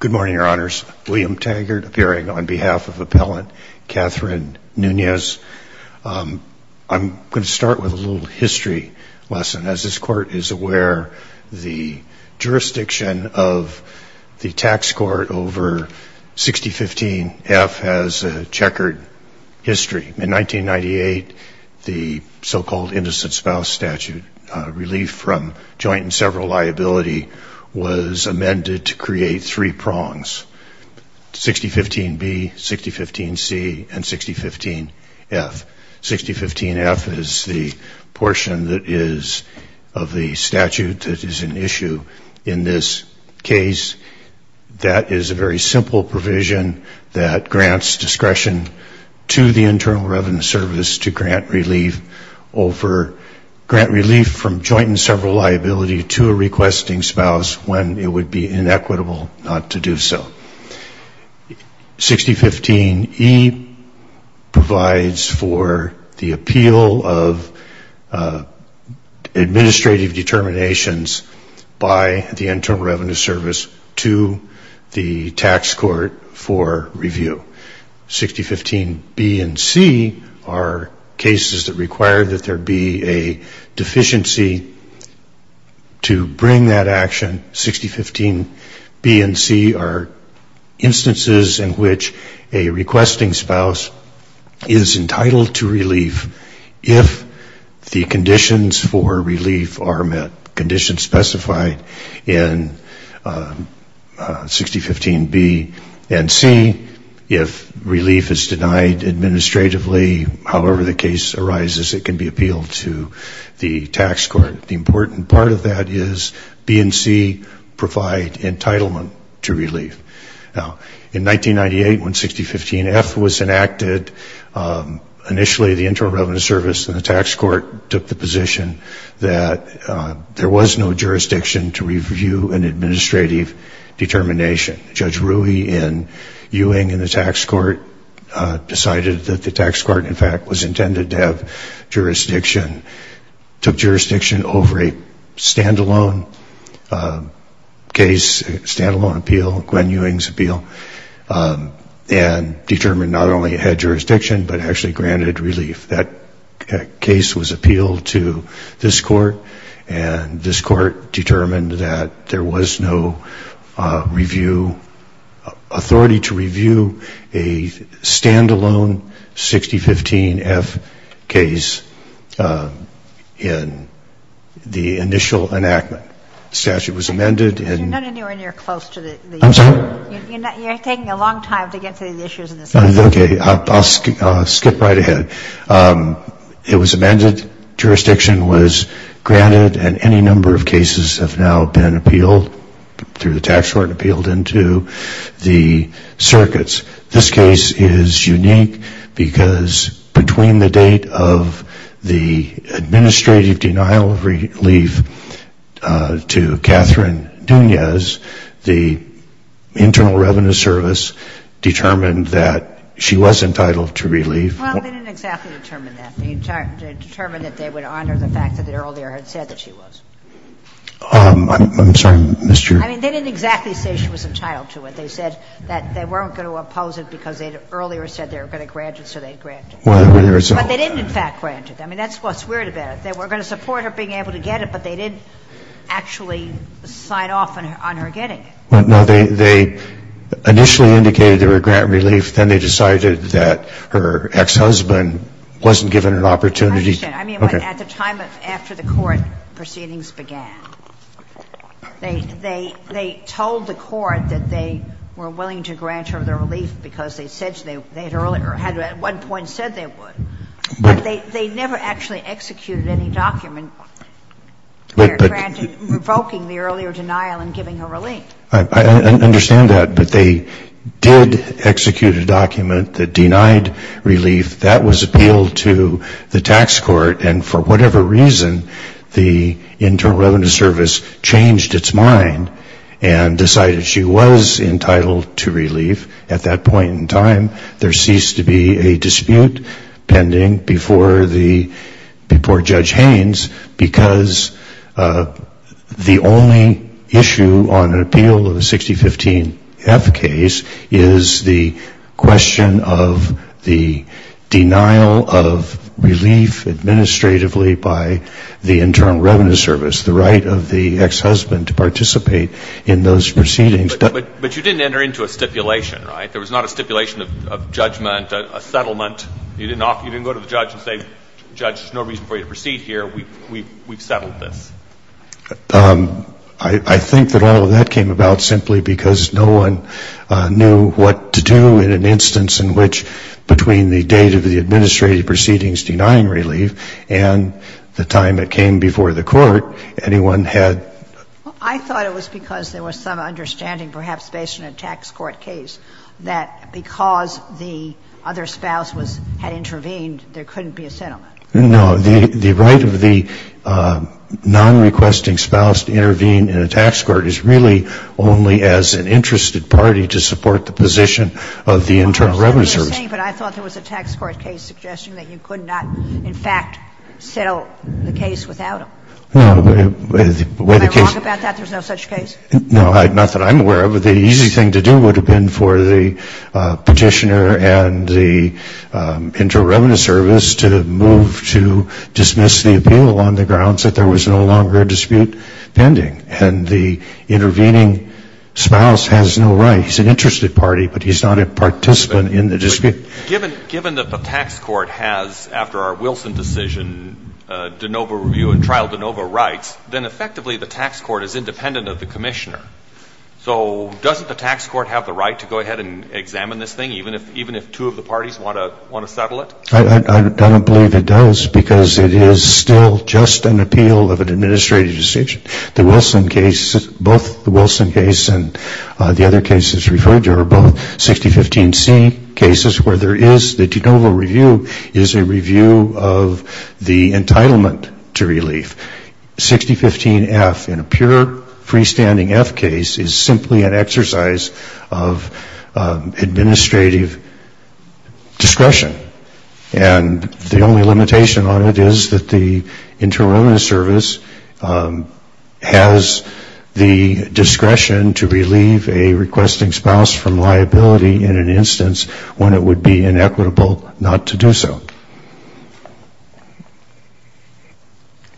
Good morning, Your Honors. William Taggart appearing on behalf of Appellant Catherine Nunez. I'm going to start with a little history lesson. As this Court is aware, the jurisdiction of the Tax Court over 6015 F has a checkered history. In 1998, the so-called Innocent Spouse Statute relief from joint and several liability was amended to create three prongs, 6015 B, 6015 C, and 6015 F. 6015 F is the portion that is of the statute that is an issue in this case. That is a very simple provision that grants discretion to the Internal Revenue Service to grant relief from joint and several liability to a requesting spouse when it would be inequitable not to do so. 6015 E provides for the appeal of administrative determinations by the Internal Revenue Service to the Tax Court for review. 6015 B and C are cases that require that there be a deficiency to bring that action. 6015 B and C are instances in which a requesting spouse is entitled to relief if the conditions for relief are met, conditions specified in 6015 B and C. If relief is denied administratively, however the case arises, it can be appealed to the Tax Court. The important part of that is B and C provide entitlement to relief. Now, in 1998, when 6015 F was enacted, initially the Internal Revenue Service and the Tax Court took the position that there was no jurisdiction to review an administrative determination. Judge Rui in Ewing and the Tax Court decided that the Tax Court, in fact, was intended to have jurisdiction, took jurisdiction over a stand-alone case, a stand-alone appeal, Gwen Ewing's appeal, and determined not only had jurisdiction, but actually granted relief. That case was appealed to this Court, and this Court determined that there was no review, authority to review a stand-alone 6015 F case in the initial enactment. The statute was amended and... You're not anywhere near close to the... I'm sorry? You're taking a long time to get to the issues in this case. Okay, I'll skip right ahead. It was amended, jurisdiction was granted, and any number of cases have now been appealed through the Tax Court, appealed into the circuits. This case is unique because between the date of the administrative denial of relief to Catherine Duniaz, the Internal Revenue Service determined that she was entitled to relief. Well, they didn't exactly determine that. They determined that they would honor the fact that they earlier had said that she was. I'm sorry, Mr. ---- I mean, they didn't exactly say she was entitled to it. They said that they weren't going to oppose it because they had earlier said they were going to grant it, so they had granted it. Well, there's a... But they didn't, in fact, grant it. I mean, that's what's weird about it. They were going to support her being able to get it, but they didn't actually sign off on her getting it. Well, no, they initially indicated they were going to grant relief. Then they decided that her ex-husband wasn't given an opportunity to... I understand. I mean, at the time after the court proceedings began. They told the court that they were willing to grant her the relief because they said they had earlier or had at one point said they would. But they never actually executed any document where granted, revoking the earlier denial and giving her relief. I understand that, but they did execute a document that denied relief. That was appealed to the tax court, and for whatever reason, the Internal Revenue Service changed its mind and decided she was entitled to relief. At that point in time, there ceased to be a dispute pending before Judge Haynes because the only issue on appeal of the 6015F case is the question of the denial of relief administratively by the Internal Revenue Service, the right of the ex-husband to participate in those proceedings. But you didn't enter into a stipulation, right? There was not a stipulation of judgment, a settlement. You didn't go to the judge and say, Judge, there's no reason for you to proceed here. We've settled this. I think that all of that came about simply because no one knew what to do in an instance in which between the date of the administrative proceedings denying relief and the time it took to get a settlement, there was no reason to go to the judge and say, Judge, And I think that's the reason why the case was not settled. I thought it was because there was some understanding, perhaps based on a tax court case, that because the other spouse was – had intervened, there couldn't be a settlement. No. The right of the non-requesting spouse to intervene in a tax court is really only as an interested party to support the position of the Internal Revenue Service. But I thought there was a tax court case suggesting that you could not, in fact, settle the case without them. No. Am I wrong about that, there's no such case? No, not that I'm aware of. The easy thing to do would have been for the Petitioner and the Internal Revenue Service to move to dismiss the appeal on the grounds that there was no longer a dispute pending. And the intervening spouse has no right. He's an interested party, but he's not a participant in the dispute. Given that the tax court has, after our Wilson decision, de novo review and trial de novo rights, then effectively the tax court is independent of the Commissioner. So doesn't the tax court have the right to go ahead and examine this thing, even if two of the parties want to settle it? I don't believe it does, because it is still just an appeal of an administrative decision. The Wilson case, both the Wilson case and the other cases referred to are both 6015C cases where there is, the de novo review is a review of the entitlement to relief. 6015F, in a pure freestanding F case, is simply an exercise of administrative discretion. And the only limitation on it is that the Internal Revenue Service has the discretion to relieve a requesting spouse from liability in an instance when it would be inequitable not to do so.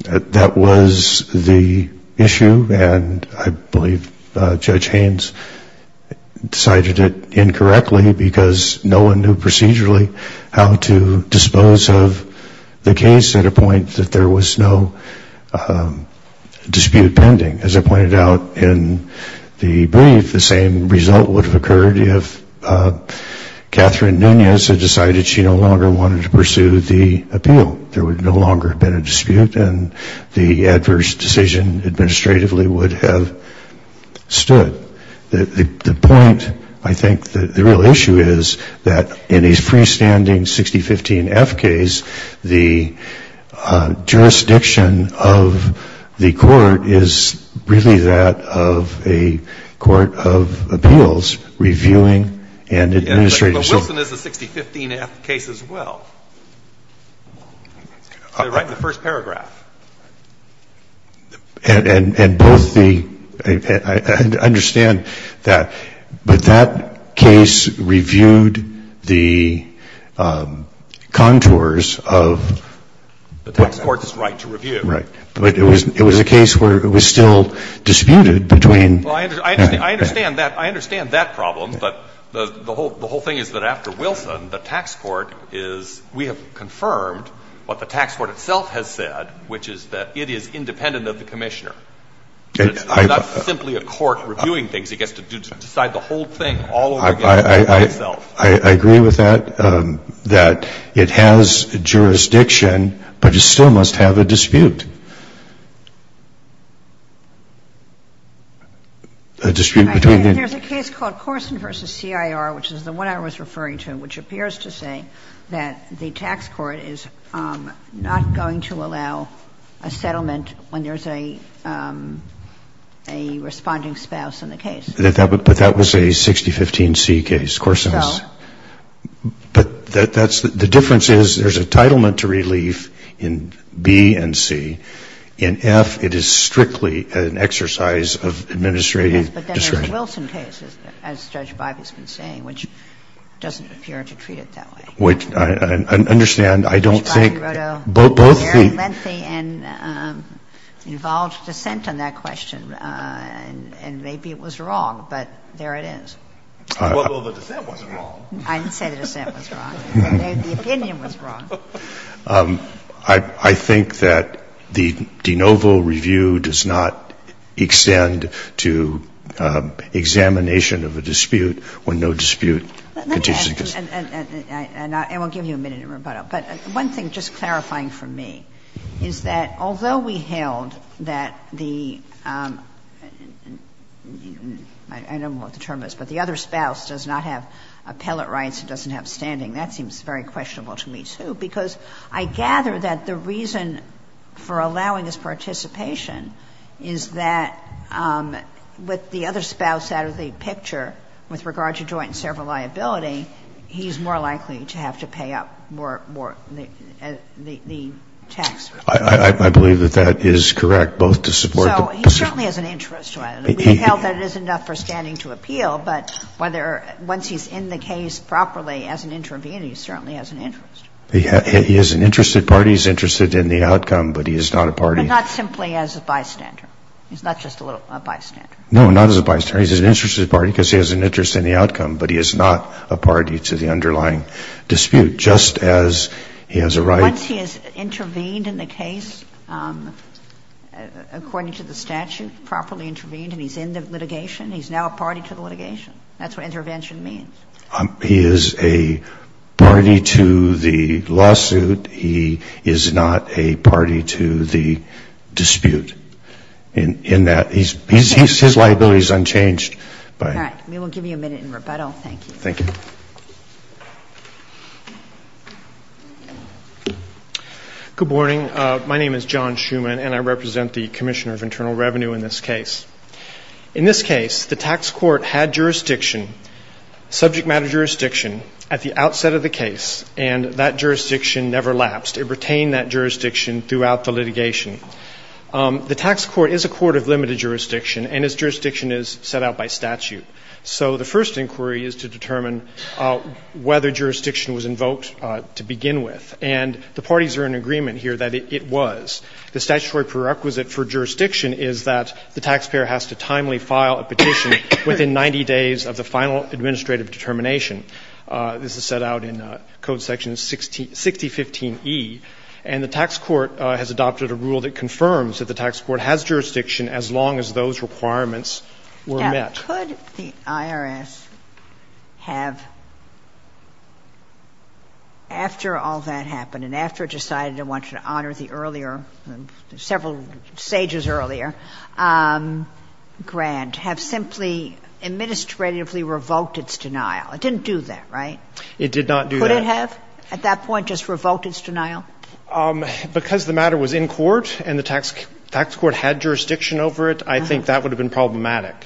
That was the issue, and I believe Judge Haynes decided it incorrectly, because no one knew procedurally how to dispose of the case at a point that there was no dispute pending. As I pointed out in the brief, the same result would have occurred if Catherine Nunez had decided she no longer wanted to pursue the appeal. There would no longer have been a dispute, and the adverse decision administratively would have stood. The point, I think, the real issue is that in a freestanding 6015F case, the plaintiff has the discretion to review the case. And that was the case in the 6015F case as well. They write the first paragraph. And both the ‑‑ I understand that, but that case reviewed the contours of ‑‑ The Texas court's right to review. Right. But it was a case where it was still disputed between ‑‑ Well, I understand that problem, but the whole thing is that after Wilson, the tax court is ‑‑ we have confirmed what the tax court itself has said, which is that it is independent of the commissioner. It's not simply a court reviewing things. It gets to decide the whole thing all over again by itself. I agree with that, that it has jurisdiction, but it still must have a dispute. A dispute between the ‑‑ There's a case called Corson v. CIR, which is the one I was referring to, which appears to say that the tax court is not going to allow a settlement when there is a responding spouse in the case. But that was a 6015C case, Corson's. So? But that's ‑‑ the difference is there's a entitlement to relief in B and C. In F, it is strictly an exercise of administrative discretion. Yes, but then there's Wilson cases, as Judge Bibas has been saying, which doesn't appear to treat it that way. Which, I understand, I don't think ‑‑ Judge Bibas wrote a very lengthy and involved dissent on that question, and maybe it was wrong, but there it is. Well, the dissent wasn't wrong. I didn't say the dissent was wrong. The opinion was wrong. I think that the de novo review does not extend to examination of a dispute when no dispute continues. And I will give you a minute in rebuttal. But one thing, just clarifying for me, is that although we held that the ‑‑ I don't know what the term is, but the other spouse does not have appellate rights, doesn't have standing. That seems very questionable to me, too, because I gather that the reason for allowing this participation is that with the other spouse out of the picture with regard to joint and several liability, he's more likely to have to pay up more ‑‑ the tax ‑‑ I believe that that is correct, both to support the ‑‑ So he certainly has an interest to it. We held that it is enough for standing to appeal, but once he's in the case properly as an intervener, he certainly has an interest. He is an interested party. He's interested in the outcome, but he is not a party. But not simply as a bystander. He's not just a little bystander. No, not as a bystander. He's an interested party because he has an interest in the outcome, but he is not a party to the underlying dispute, just as he has a right ‑‑ Once he has intervened in the case according to the statute, properly intervened and he's in the litigation, he's now a party to the litigation. That's what intervention means. He is a party to the lawsuit. He is not a party to the dispute. In that, his liability is unchanged. All right. We will give you a minute in rebuttal. Thank you. Thank you. Good morning. My name is John Schuman, and I represent the Commissioner of Internal Revenue in this case. In this case, the tax court had jurisdiction, subject matter jurisdiction, at the outset of the case, and that jurisdiction never lapsed. It retained that jurisdiction throughout the litigation. The tax court is a court of limited jurisdiction, and its jurisdiction is set out by statute. So the first inquiry is to determine whether jurisdiction was invoked to begin with. And the parties are in agreement here that it was. The statutory prerequisite for jurisdiction is that the taxpayer has to timely file a petition within 90 days of the final administrative determination. This is set out in Code Section 6015e. And the tax court has adopted a rule that confirms that the tax court has jurisdiction as long as those requirements were met. Now, could the IRS have, after all that happened and after it decided it wanted to honor the earlier, several stages earlier, grant, have simply administratively revoked its denial? It didn't do that, right? It did not do that. Could it have at that point just revoked its denial? Because the matter was in court and the tax court had jurisdiction over it, I think that would have been problematic.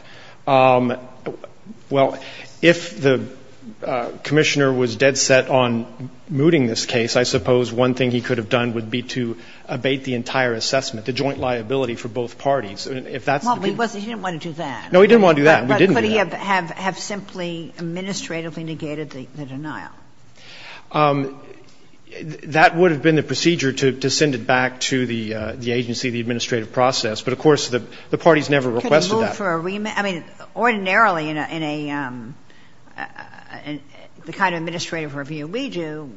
Well, if the Commissioner was dead set on mooting this case, I suppose one thing he could have done would be to abate the entire assessment, the joint liability for both parties. If that's the case. Well, he didn't want to do that. No, he didn't want to do that. We didn't do that. But could he have simply administratively negated the denial? That would have been the procedure to send it back to the agency, the administrative process. But, of course, the parties never requested that. Could it move for a remand? I mean, ordinarily in a the kind of administrative review we do,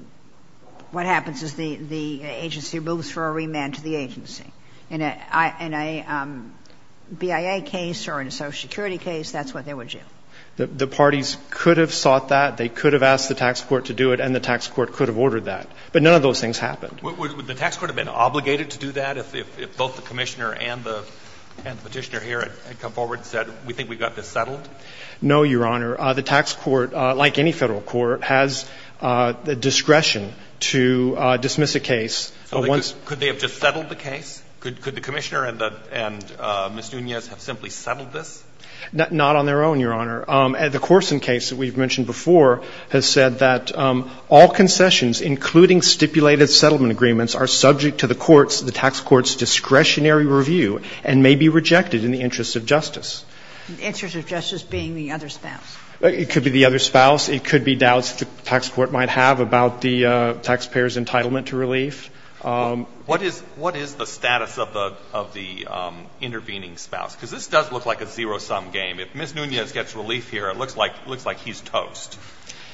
what happens is the agency moves for a remand to the agency. In a BIA case or in a Social Security case, that's what they would do. The parties could have sought that, they could have asked the tax court to do it, and the tax court could have ordered that. But none of those things happened. Would the tax court have been obligated to do that if both the Commissioner and the Petitioner here had come forward and said we think we've got this settled? No, Your Honor. The tax court, like any Federal court, has the discretion to dismiss a case. Could they have just settled the case? Could the Commissioner and Ms. Nunez have simply settled this? Not on their own, Your Honor. The Corson case that we've mentioned before has said that all concessions, including stipulated settlement agreements, are subject to the court's, the tax court's discretionary review and may be rejected in the interest of justice. The interest of justice being the other spouse? It could be the other spouse. It could be doubts that the tax court might have about the taxpayer's entitlement to relief. What is the status of the intervening spouse? Because this does look like a zero-sum game. If Ms. Nunez gets relief here, it looks like he's toast.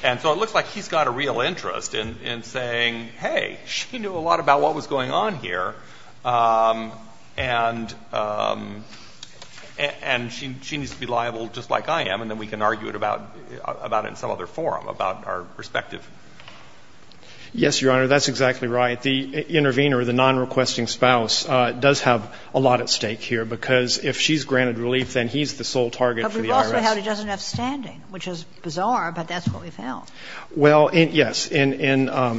And so it looks like he's got a real interest in saying, hey, she knew a lot about what was going on here, and she needs to be liable just like I am, and then we can argue it about it in some other forum, about our perspective. Yes, Your Honor, that's exactly right. The intervener, the nonrequesting spouse, does have a lot at stake here, because if she's granted relief, then he's the sole target for the IRS. But we've also had he doesn't have standing, which is bizarre, but that's what we've held. Well, yes. In the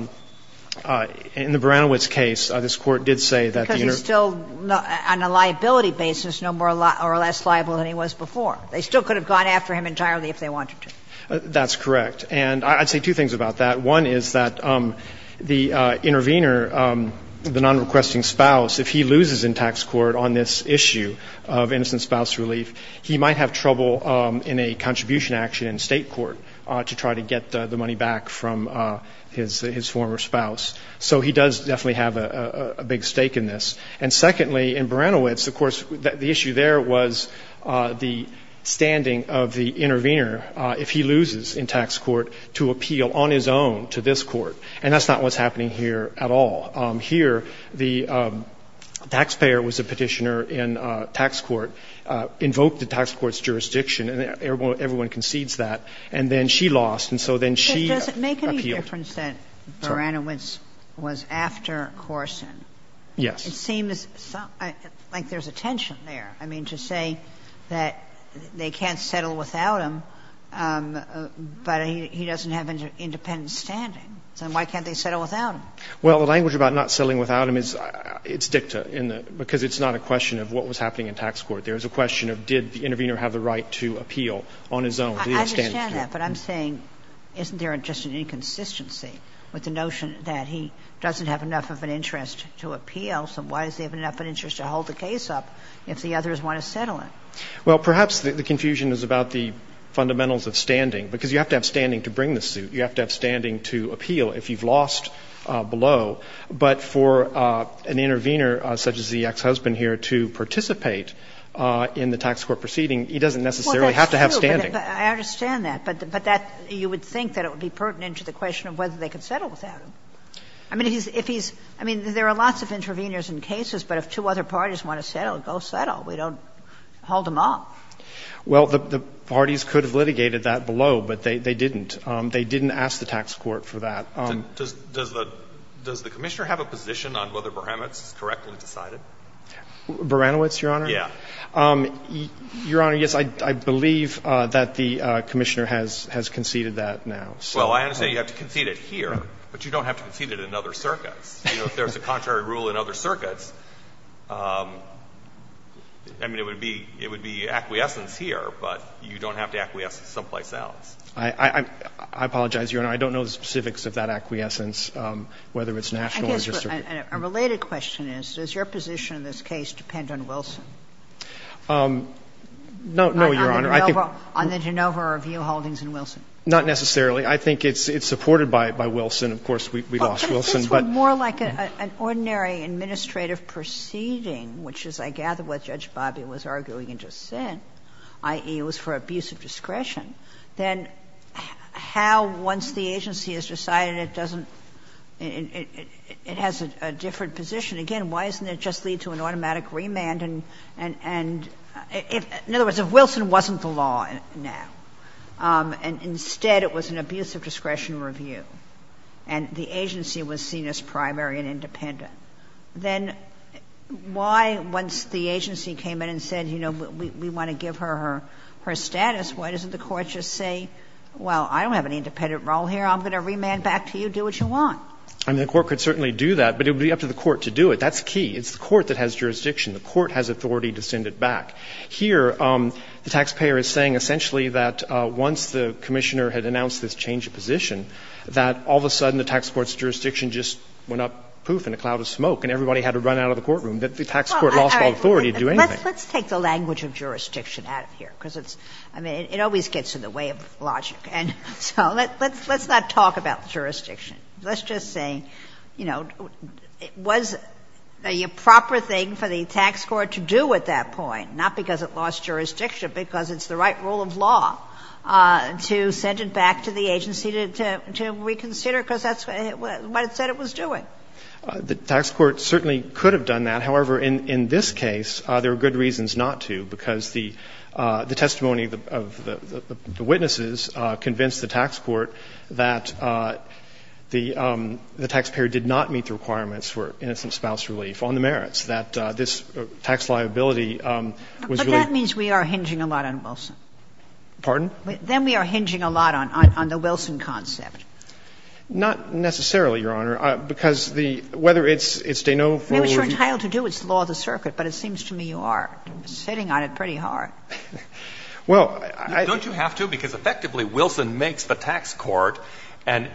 Beranowitz case, this Court did say that the interv... Because he's still, on a liability basis, no more or less liable than he was before. They still could have gone after him entirely if they wanted to. That's correct. And I'd say two things about that. One is that the intervener, the nonrequesting spouse, if he loses in tax court on this issue of innocent spouse relief, he might have trouble in a contribution action in state court to try to get the money back from his former spouse. So he does definitely have a big stake in this. And secondly, in Beranowitz, of course, the issue there was the standing of the intervener, if he loses in tax court, to appeal on his own to this Court. And that's not what's happening here at all. Here, the taxpayer was a petitioner in tax court, invoked the tax court's jurisdiction, and everyone concedes that. And then she lost, and so then she appealed. But does it make any difference that Beranowitz was after Corson? Yes. It seems like there's a tension there. I mean, to say that they can't settle without him, but he doesn't have independent standing. So why can't they settle without him? Well, the language about not settling without him is dicta, because it's not a question of what was happening in tax court. There's a question of did the intervener have the right to appeal on his own to the extended suit. I understand that, but I'm saying isn't there just an inconsistency with the notion that he doesn't have enough of an interest to appeal, so why does he have enough of an interest to hold the case up if the others want to settle it? Well, perhaps the confusion is about the fundamentals of standing, because you have to have standing to bring the suit. You have to have standing to appeal if you've lost below. But for an intervener such as the ex-husband here to participate in the tax court proceeding, he doesn't necessarily have to have standing. Well, that's true, but I understand that. But that you would think that it would be pertinent to the question of whether they could settle without him. I mean, if he's – I mean, there are lots of interveners in cases, but if two other parties want to settle, go settle. We don't hold them up. Well, the parties could have litigated that below, but they didn't. They didn't ask the tax court for that. Does the Commissioner have a position on whether Baranowicz is correctly decided? Baranowicz, Your Honor? Yeah. Your Honor, yes. I believe that the Commissioner has conceded that now. Well, I understand you have to concede it here, but you don't have to concede it in other circuits. You know, if there's a contrary rule in other circuits, I mean, it would be acquiescence here, but you don't have to acquiesce someplace else. I apologize, Your Honor. I don't know the specifics of that acquiescence, whether it's national or district. I guess a related question is, does your position in this case depend on Wilson? No. No, Your Honor. On the Genova Review holdings and Wilson? Not necessarily. I think it's supported by Wilson. Of course, we lost Wilson, but – It seems more like an ordinary administrative proceeding, which is, I gather, what Judge Bobby was arguing and just said, i.e., it was for abuse of discretion, then how, once the agency has decided it doesn't – it has a different position, again, why doesn't it just lead to an automatic remand? And if, in other words, if Wilson wasn't the law now, and instead it was an abuse of discretion review, and the agency was seen as primary and independent, then why, once the agency came in and said, you know, we want to give her her status, why doesn't the court just say, well, I don't have an independent role here, I'm going to remand back to you, do what you want? I mean, the court could certainly do that, but it would be up to the court to do it. That's key. It's the court that has jurisdiction. The court has authority to send it back. Here, the taxpayer is saying essentially that once the commissioner had announced this change of position, that all of a sudden the tax court's jurisdiction just went up poof in a cloud of smoke and everybody had to run out of the courtroom, that the tax court lost all authority to do anything. Let's take the language of jurisdiction out of here, because it's, I mean, it always gets in the way of logic. And so let's not talk about jurisdiction. Let's just say, you know, it was the proper thing for the tax court to do at that point, not because it lost jurisdiction, but because it's the right rule of law to send it back to the agency to reconsider, because that's what it said it was doing. The tax court certainly could have done that. However, in this case, there are good reasons not to, because the testimony of the witnesses convinced the tax court that the taxpayer did not meet the requirements for innocent spouse relief on the merits, that this tax liability was really But that means we are hinging a lot on Wilson. Pardon? Then we are hinging a lot on the Wilson concept. Not necessarily, Your Honor, because the – whether it's Dano forward view it's law of the circuit, but it seems to me you are sitting on it pretty hard. Well, I – Don't you have to? Because effectively, Wilson makes the tax court an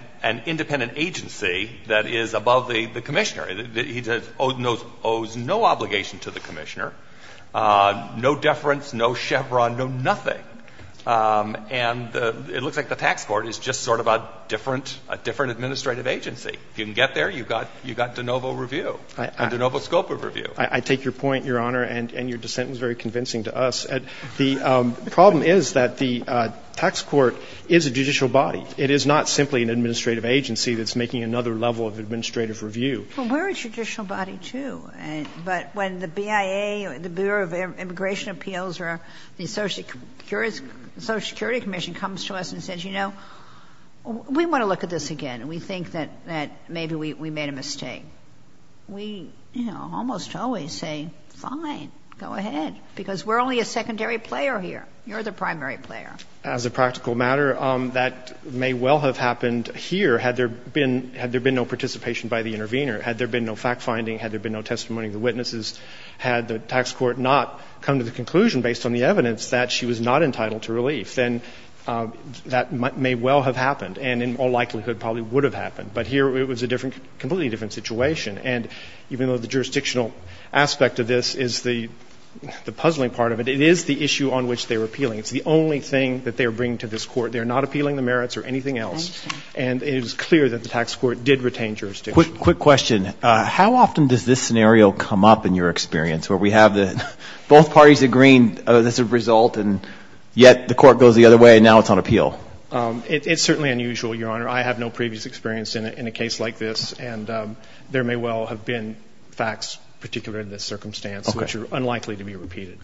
independent agency that is above the commissioner. It owes no obligation to the commissioner, no deference, no chevron, no nothing. And it looks like the tax court is just sort of a different administrative agency. If you can get there, you've got Danovo review, Danovo scope of review. I take your point, Your Honor, and your dissent was very convincing to us. The problem is that the tax court is a judicial body. It is not simply an administrative agency that's making another level of administrative review. Well, we're a judicial body, too. But when the BIA, the Bureau of Immigration Appeals or the Social Security Commission comes to us and says, you know, we want to look at this again and we think that maybe we made a mistake, we, you know, almost always say, fine, go ahead, because we're only a secondary player here. You're the primary player. As a practical matter, that may well have happened here had there been no participation by the intervener, had there been no fact-finding, had there been no testimony of the witnesses, had the tax court not come to the conclusion based on the evidence that she was not entitled to relief, then that may well have happened and in all likelihood probably would have happened. But here it was a different, completely different situation. And even though the jurisdictional aspect of this is the puzzling part of it, it is the issue on which they're appealing. It's the only thing that they're bringing to this Court. They're not appealing the merits or anything else. And it is clear that the tax court did retain jurisdiction. Quick question. How often does this scenario come up in your experience where we have the both parties agreeing this is a result and yet the Court goes the other way and now it's on appeal? It's certainly unusual, Your Honor. I have no previous experience in a case like this. And there may well have been facts particular in this circumstance which are unlikely to be repeated.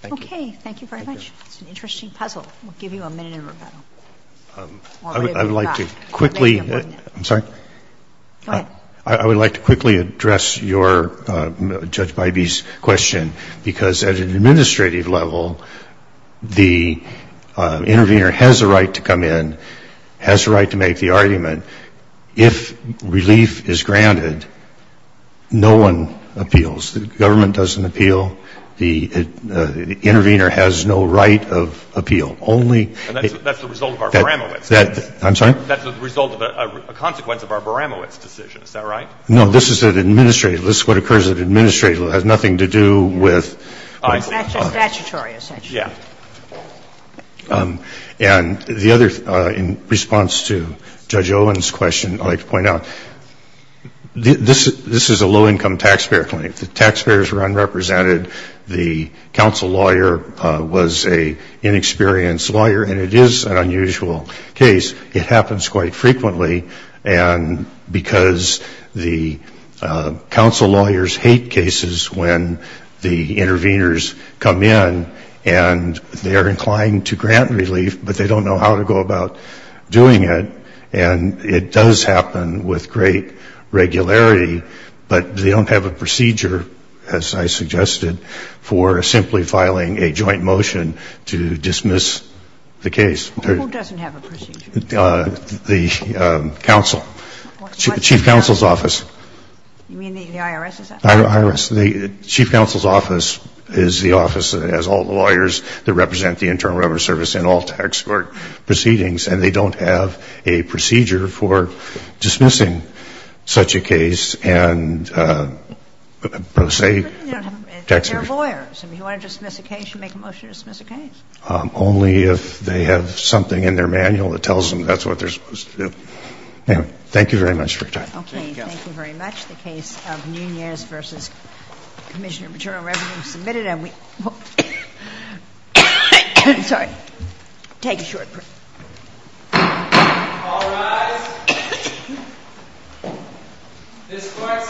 Thank you. Okay. Thank you very much. It's an interesting puzzle. We'll give you a minute in rebuttal. I would like to quickly. I'm sorry. Go ahead. I would like to quickly address your, Judge Bybee's question. Because at an administrative level, the intervener has a right to come in, has a right to make the argument. If relief is granted, no one appeals. The government doesn't appeal. The intervener has no right of appeal. Only. And that's the result of our Baramowicz case. I'm sorry? That's the result of a consequence of our Baramowicz decision. Is that right? No. This is at administrative. This is what occurs at administrative. It has nothing to do with. Statutory, essentially. Yeah. And the other, in response to Judge Owen's question, I'd like to point out, this is a low-income taxpayer claim. The taxpayers were unrepresented. The counsel lawyer was an inexperienced lawyer. And it is an unusual case. It happens quite frequently. And because the counsel lawyers hate cases when the interveners come in and they are inclined to grant relief, but they don't know how to go about doing it. And it does happen with great regularity. But they don't have a procedure, as I suggested, for simply filing a joint motion to dismiss the case. Who doesn't have a procedure? The counsel. Chief counsel's office. You mean the IRS? The IRS. The chief counsel's office is the office that has all the lawyers that represent the Internal Revenue Service in all tax court proceedings. And they don't have a procedure for dismissing such a case. They're lawyers. If you want to dismiss a case, you make a motion to dismiss a case. Only if they have something in their manual that tells them that's what they're supposed to do. Thank you very much for your time. Okay. Thank you very much. The case of Nunez v. Commissioner of Maternal Revenue is submitted. And we will take a short break. All rise. This court stands at recess.